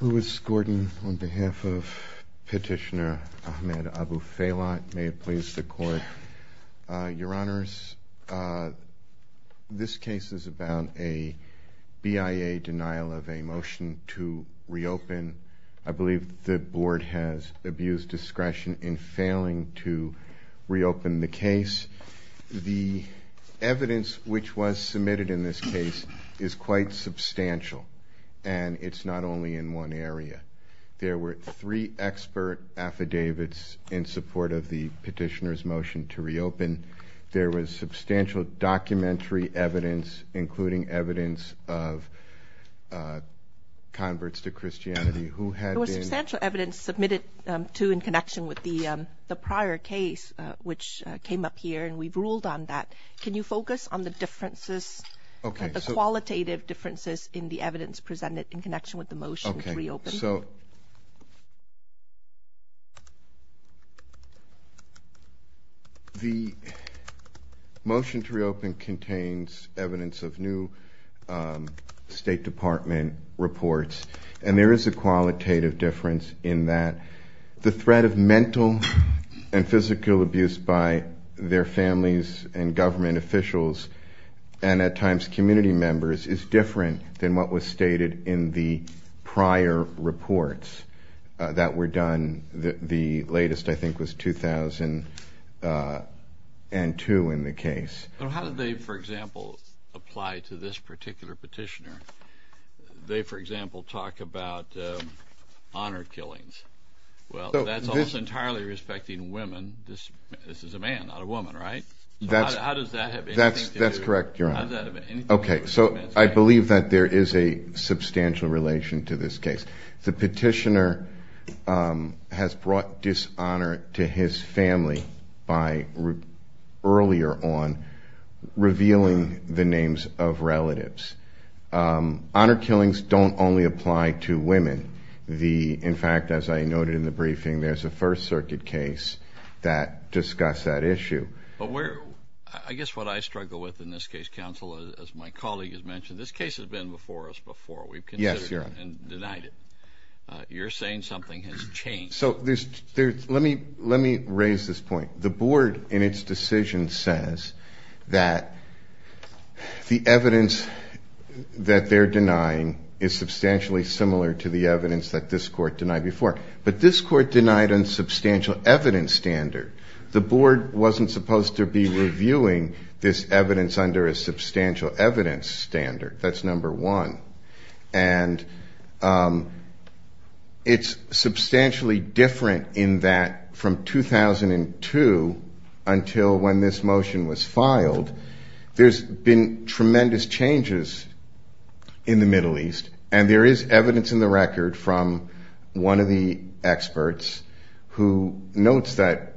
Who is Gordon, on behalf of Petitioner Ahmed Abulfeilat. May it please the Court. Your Honours, this case is about a BIA denial of a motion to reopen. I believe the Board has abused discretion in failing to reopen the case. The evidence which was submitted in this case is quite substantial, and it's not only in one area. There were three expert affidavits in support of the Petitioner's motion to reopen. There was substantial documentary evidence, including evidence of converts to Christianity who had been The substantial evidence submitted to in connection with the prior case which came up here, and we've ruled on that. Can you focus on the differences, the qualitative differences in the evidence presented in connection with the motion to reopen? So the motion to reopen contains evidence of new State Department reports, and there is a qualitative difference in that the threat of mental and physical abuse by their families and government officials, and at times community members, is different than what was stated in the prior reports that were done. The latest, I think, was 2002 in the case. How did they, for example, apply to this particular Petitioner? They, for example, talk about honour killings. Well, that's almost entirely respecting women. This is a man, not a woman, right? How does that have anything to do? That's correct, Your Honor. Okay, so I believe that there is a substantial relation to this case. The Petitioner has brought dishonour to his family by, earlier on, revealing the names of relatives. Honour killings don't only apply to women. In fact, as I noted in the briefing, there's a First Circuit case that discussed that issue. I guess what I struggle with in this case, Counsel, as my colleague has mentioned, this case has been before us before. Yes, Your Honor. We've considered it and denied it. You're saying something has changed. So let me raise this point. The Board, in its decision, says that the evidence that they're denying is substantially similar to the evidence that this Court denied before. But this Court denied a substantial evidence standard. The Board wasn't supposed to be reviewing this evidence under a substantial evidence standard. That's number one. And it's substantially different in that, from 2002 until when this motion was filed, there's been tremendous changes in the Middle East. And there is evidence in the record from one of the experts who notes that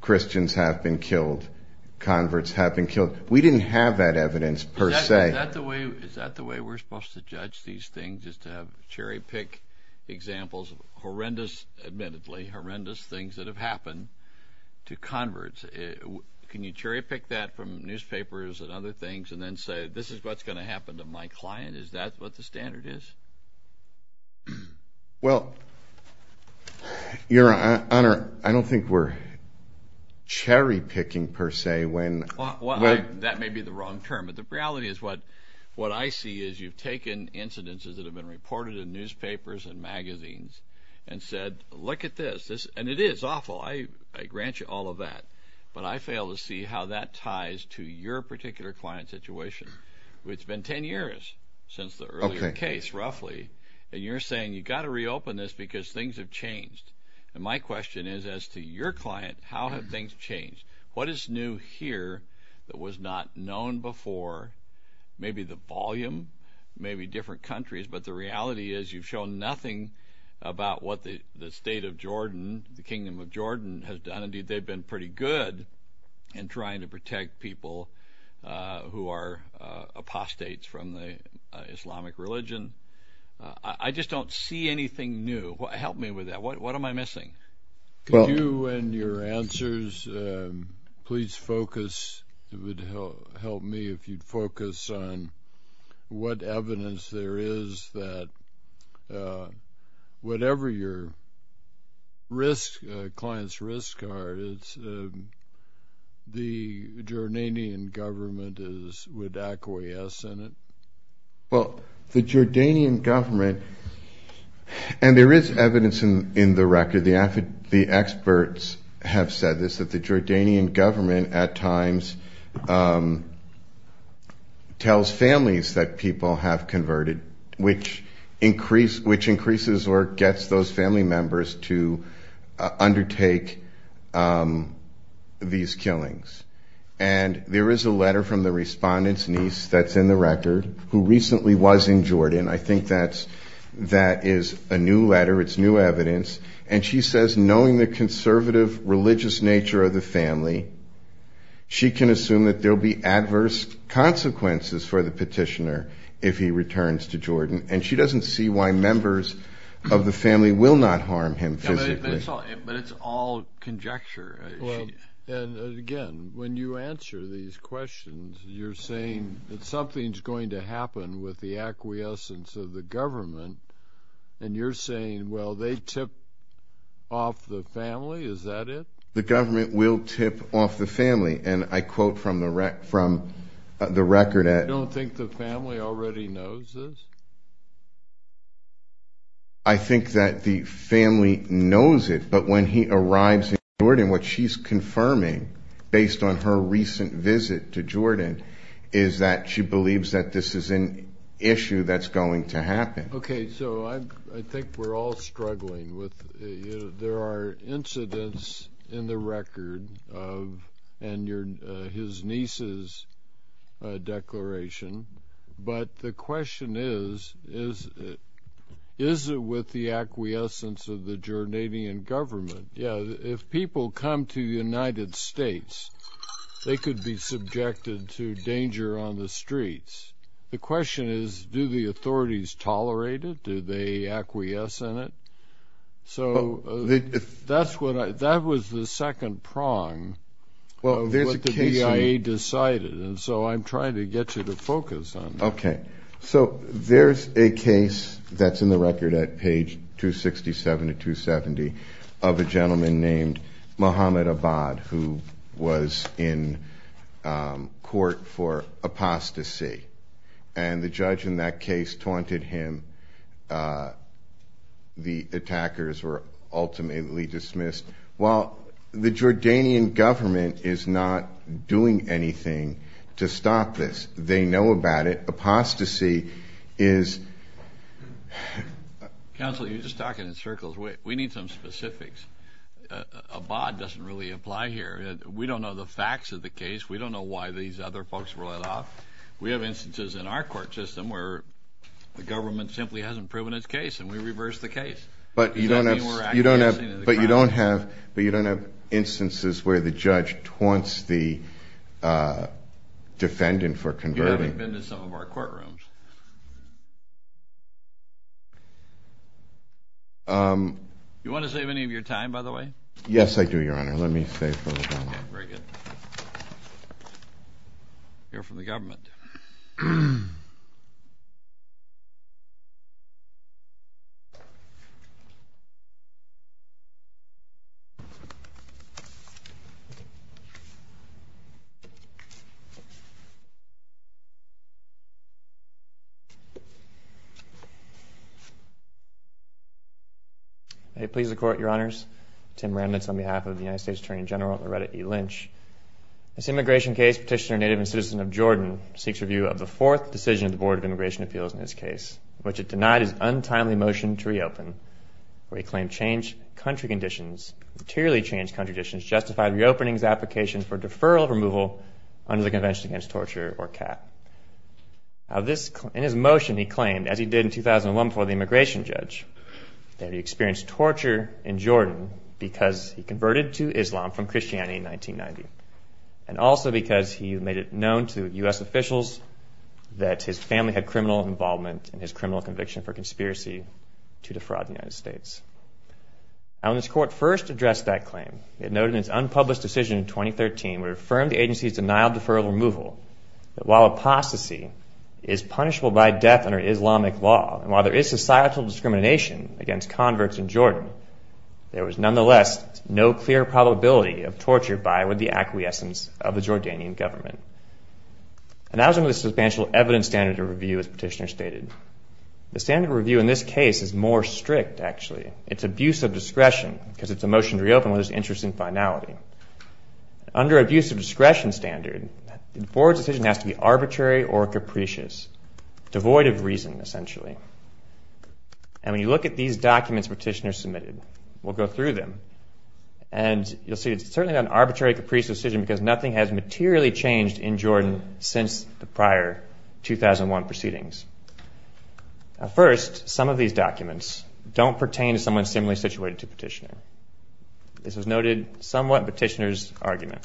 Christians have been killed, converts have been killed. We didn't have that evidence, per se. Is that the way we're supposed to judge these things, is to have cherry-pick examples of horrendous, admittedly, horrendous things that have happened to converts? Can you cherry-pick that from newspapers and other things and then say, this is what's going to happen to my client? Is that what the standard is? Well, Your Honor, I don't think we're cherry-picking, per se. That may be the wrong term, but the reality is what I see is you've taken incidences that have been reported in newspapers and magazines and said, look at this. And it is awful. I grant you all of that. But I fail to see how that ties to your particular client situation. It's been 10 years since the earlier case, roughly. And you're saying you've got to reopen this because things have changed. And my question is, as to your client, how have things changed? What is new here that was not known before? Maybe the volume, maybe different countries. But the reality is you've shown nothing about what the state of Jordan, the Kingdom of Jordan, has done. Indeed, they've been pretty good in trying to protect people who are apostates from the Islamic religion. I just don't see anything new. Help me with that. What am I missing? Could you, in your answers, please focus? It would help me if you'd focus on what evidence there is that whatever your client's risk are, the Jordanian government would acquiesce in it? Well, the Jordanian government, and there is evidence in the record, the experts have said this, that the Jordanian government at times tells families that people have converted, which increases or gets those family members to undertake these killings. And there is a letter from the respondent's niece that's in the record who recently was in Jordan. I think that is a new letter. It's new evidence. And she says knowing the conservative religious nature of the family, she can assume that there will be adverse consequences for the petitioner if he returns to Jordan. And she doesn't see why members of the family will not harm him physically. But it's all conjecture. And, again, when you answer these questions, you're saying that something's going to happen with the acquiescence of the government, and you're saying, well, they tip off the family. Is that it? The government will tip off the family. And I quote from the record that… You don't think the family already knows this? I think that the family knows it. But when he arrives in Jordan, what she's confirming based on her recent visit to Jordan is that she believes that this is an issue that's going to happen. Okay. So I think we're all struggling. There are incidents in the record of his niece's declaration. But the question is, is it with the acquiescence of the Jordanian government? Yeah, if people come to the United States, they could be subjected to danger on the streets. The question is, do the authorities tolerate it? Do they acquiesce in it? So that was the second prong of what the BIA decided. And so I'm trying to get you to focus on that. Okay. So there's a case that's in the record at page 267 to 270 of a gentleman named Mohammed Abad, who was in court for apostasy. And the judge in that case taunted him. The attackers were ultimately dismissed. Well, the Jordanian government is not doing anything to stop this. They know about it. Apostasy is — Counsel, you're just talking in circles. We need some specifics. Abad doesn't really apply here. We don't know the facts of the case. We don't know why these other folks were let off. We have instances in our court system where the government simply hasn't proven its case, and we reverse the case. But you don't have instances where the judge taunts the defendant for converting. You haven't been to some of our courtrooms. Do you want to save any of your time, by the way? Yes, I do, Your Honor. Let me save a little time. Okay, very good. We'll hear from the government. May it please the Court, Your Honors. Tim Remnitz on behalf of the United States Attorney General Loretta E. Lynch. This immigration case, Petitioner, Native, and Citizen of Jordan, seeks review of the fourth decision of the Board of Immigration Appeals in this case, which it denied his untimely motion to reopen, where he claimed changed country conditions, materially changed country conditions, justified reopening the application for deferral of removal under the Convention Against Torture or CAP. In his motion, he claimed, as he did in 2001 before the immigration judge, that he experienced torture in Jordan because he converted to Islam from Christianity in 1990, and also because he made it known to U.S. officials that his family had criminal involvement in his criminal conviction for conspiracy to defraud the United States. When this court first addressed that claim, it noted in its unpublished decision in 2013, where it affirmed the agency's denial of deferral of removal, that while apostasy is punishable by death under Islamic law, and while there is societal discrimination against converts in Jordan, there was nonetheless no clear probability of torture by or with the acquiescence of the Jordanian government. And that was under the substantial evidence standard of review, as Petitioner stated. The standard of review in this case is more strict, actually. It's abuse of discretion, because it's a motion to reopen with its interest in finality. Under abuse of discretion standard, the board's decision has to be arbitrary or capricious, devoid of reason, essentially. And when you look at these documents Petitioner submitted, we'll go through them, and you'll see it's certainly not an arbitrary, capricious decision, because nothing has materially changed in Jordan since the prior 2001 proceedings. First, some of these documents don't pertain to someone similarly situated to Petitioner. This was noted somewhat in Petitioner's argument.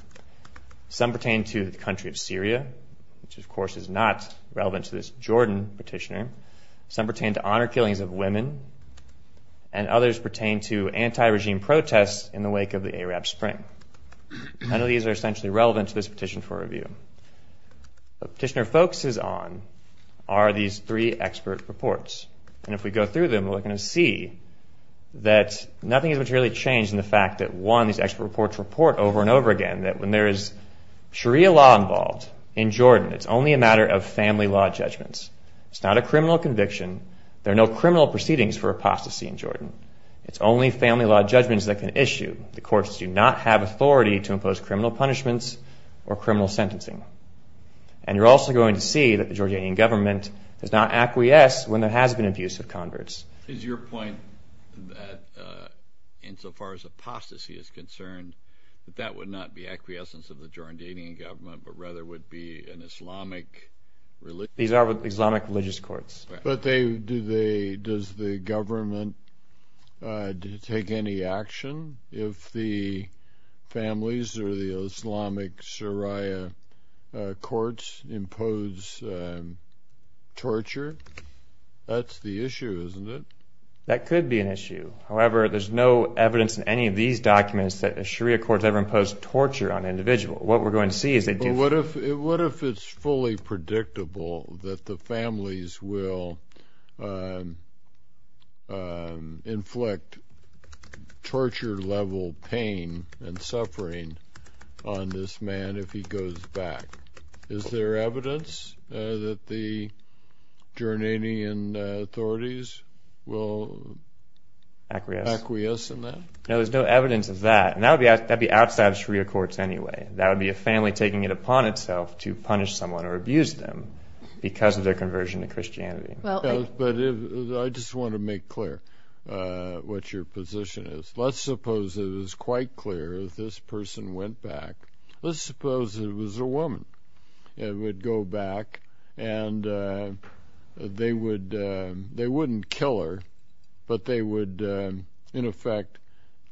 Some pertain to the country of Syria, which of course is not relevant to this Jordan petitioner. Some pertain to honor killings of women, and others pertain to anti-regime protests in the wake of the Arab Spring. None of these are essentially relevant to this petition for review. What Petitioner focuses on are these three expert reports. And if we go through them, we're going to see that nothing has materially changed in the fact that, one, these expert reports report over and over again that when there is Sharia law involved in Jordan, it's only a matter of family law judgments. It's not a criminal conviction. There are no criminal proceedings for apostasy in Jordan. It's only family law judgments that can issue. The courts do not have authority to impose criminal punishments or criminal sentencing. And you're also going to see that the Jordanian government does not acquiesce when there has been abuse of converts. Is your point that, insofar as apostasy is concerned, that that would not be acquiescence of the Jordanian government, but rather would be an Islamic religion? These are Islamic religious courts. But does the government take any action if the families or the Islamic Sharia courts impose torture? That's the issue, isn't it? That could be an issue. However, there's no evidence in any of these documents that a Sharia court has ever imposed torture on an individual. What if it's fully predictable that the families will inflict torture-level pain and suffering on this man if he goes back? Is there evidence that the Jordanian authorities will acquiesce in that? No, there's no evidence of that. And that would be outside of Sharia courts anyway. That would be a family taking it upon itself to punish someone or abuse them because of their conversion to Christianity. I just want to make clear what your position is. Let's suppose it was quite clear that this person went back. Let's suppose it was a woman and would go back. And they wouldn't kill her, but they would, in effect,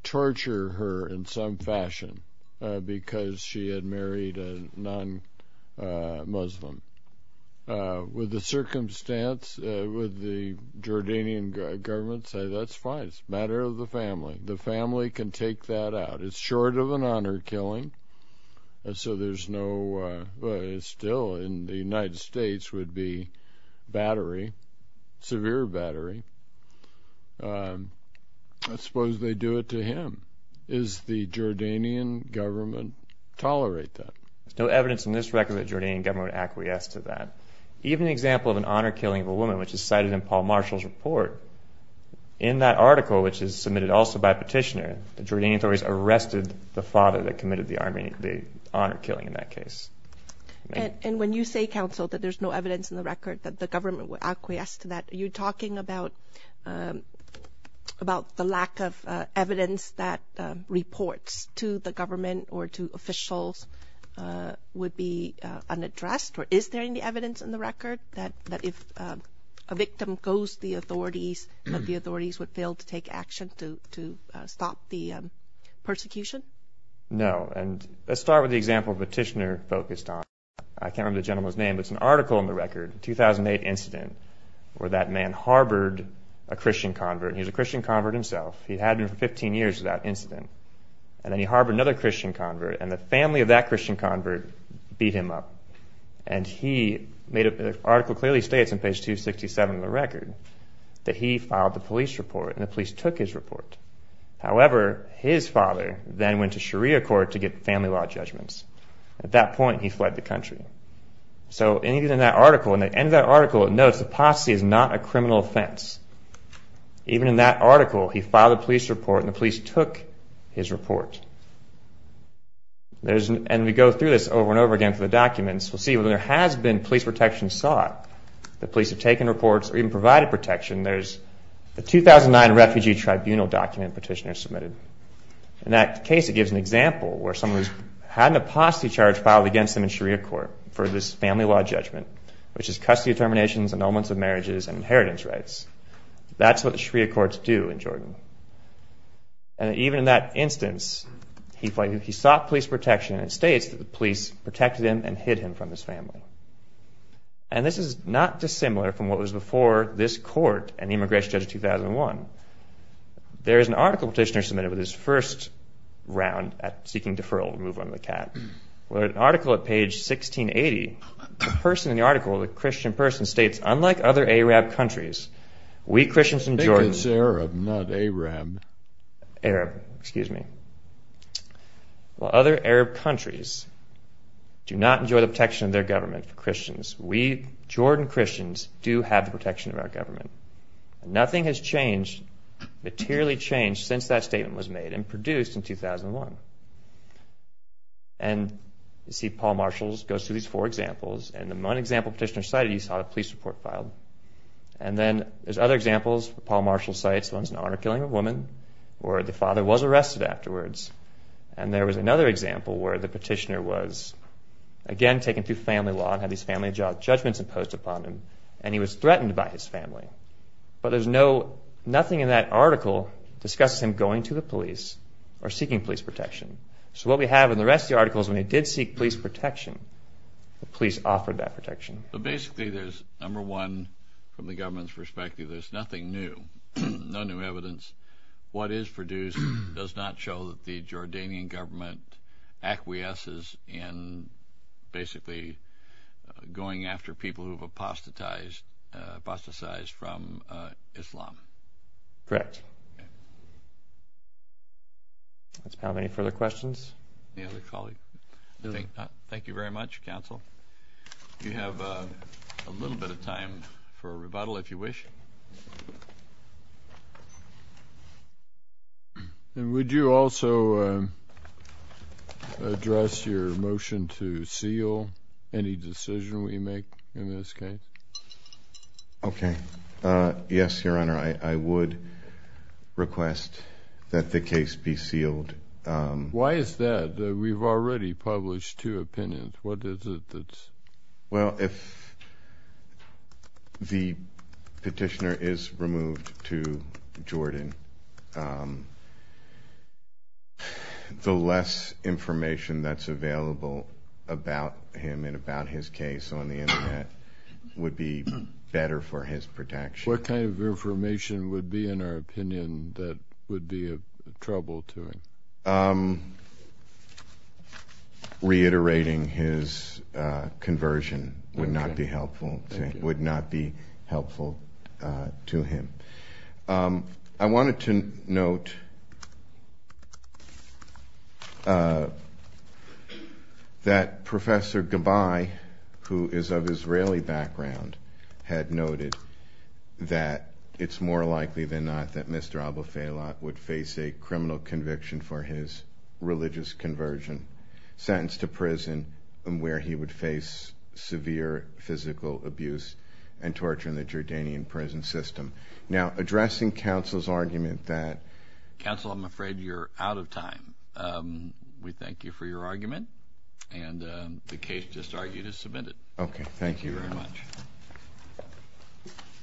torture her in some fashion because she had married a non-Muslim. Would the Jordanian government say, That's fine. It's a matter of the family. The family can take that out. It's short of an honor killing. So there's no, still in the United States, would be battery, severe battery. I suppose they do it to him. Does the Jordanian government tolerate that? There's no evidence in this record that the Jordanian government would acquiesce to that. Even an example of an honor killing of a woman, which is cited in Paul Marshall's report, in that article, which is submitted also by petitioner, the Jordanian authorities arrested the father that committed the honor killing in that case. And when you say, counsel, that there's no evidence in the record that the government would acquiesce to that, are you talking about the lack of evidence that reports to the government or to officials would be unaddressed? Or is there any evidence in the record that if a victim goes to the authorities, that the authorities would fail to take action to stop the persecution? No. And let's start with the example petitioner focused on. I can't remember the gentleman's name, but it's an article in the record, 2008 incident, where that man harbored a Christian convert. He was a Christian convert himself. He'd had him for 15 years without incident. And then he harbored another Christian convert, and the family of that Christian convert beat him up. And the article clearly states on page 267 of the record that he filed the police report, and the police took his report. However, his father then went to Sharia court to get family law judgments. At that point, he fled the country. So anything in that article, in the end of that article, it notes apostasy is not a criminal offense. Even in that article, he filed a police report, and the police took his report. And we go through this over and over again through the documents. We'll see whether there has been police protection sought. The police have taken reports or even provided protection. There's a 2009 refugee tribunal document petitioner submitted. In that case, it gives an example where someone who's had an apostasy charge filed against them in Sharia court for this family law judgment, which is custody determinations, annulments of marriages, and inheritance rights. That's what the Sharia courts do in Jordan. And even in that instance, he sought police protection, and it states that the police protected him and hid him from his family. And this is not dissimilar from what was before this court and the immigration judge of 2001. There is an article petitioner submitted with his first round at seeking deferral to move on to the CAT. An article at page 1680, the person in the article, the Christian person, states, unlike other Arab countries, we Christians in Jordan. I think it's Arab, not Arab. Arab, excuse me. While other Arab countries do not enjoy the protection of their government for Christians, we Jordan Christians do have the protection of our government. Nothing has changed, materially changed, since that statement was made and produced in 2001. And you see Paul Marshall goes through these four examples, and the one example petitioner cited, you saw the police report filed. And then there's other examples Paul Marshall cites. One's an honor killing of a woman, where the father was arrested afterwards. And there was another example where the petitioner was, again, taken through family law and had these family judgments imposed upon him, and he was threatened by his family. But there's nothing in that article that discusses him going to the police or seeking police protection. So what we have in the rest of the article is when he did seek police protection, the police offered that protection. So basically there's, number one, from the government's perspective, there's nothing new. No new evidence. What is produced does not show that the Jordanian government acquiesces in basically going after people who have apostatized from Islam. Correct. Does Paul have any further questions? Any other colleagues? I think not. Thank you very much, counsel. You have a little bit of time for a rebuttal, if you wish. Would you also address your motion to seal any decision we make in this case? Okay. Yes, Your Honor, I would request that the case be sealed. Why is that? We've already published two opinions. What is it that's? Well, if the petitioner is removed to Jordan, the less information that's available about him and about his case on the Internet would be better for his protection. What kind of information would be, in our opinion, that would be of trouble to him? Reiterating his conversion would not be helpful to him. I wanted to note that Professor Gabai, who is of Israeli background, had noted that it's more likely than not that Mr. Abufailat would face a criminal conviction for his religious conversion, sentenced to prison where he would face severe physical abuse and torture in the Jordanian prison system. Now, addressing counsel's argument that... Counsel, I'm afraid you're out of time. We thank you for your argument, and the case just argued is submitted. Okay. Thank you very much.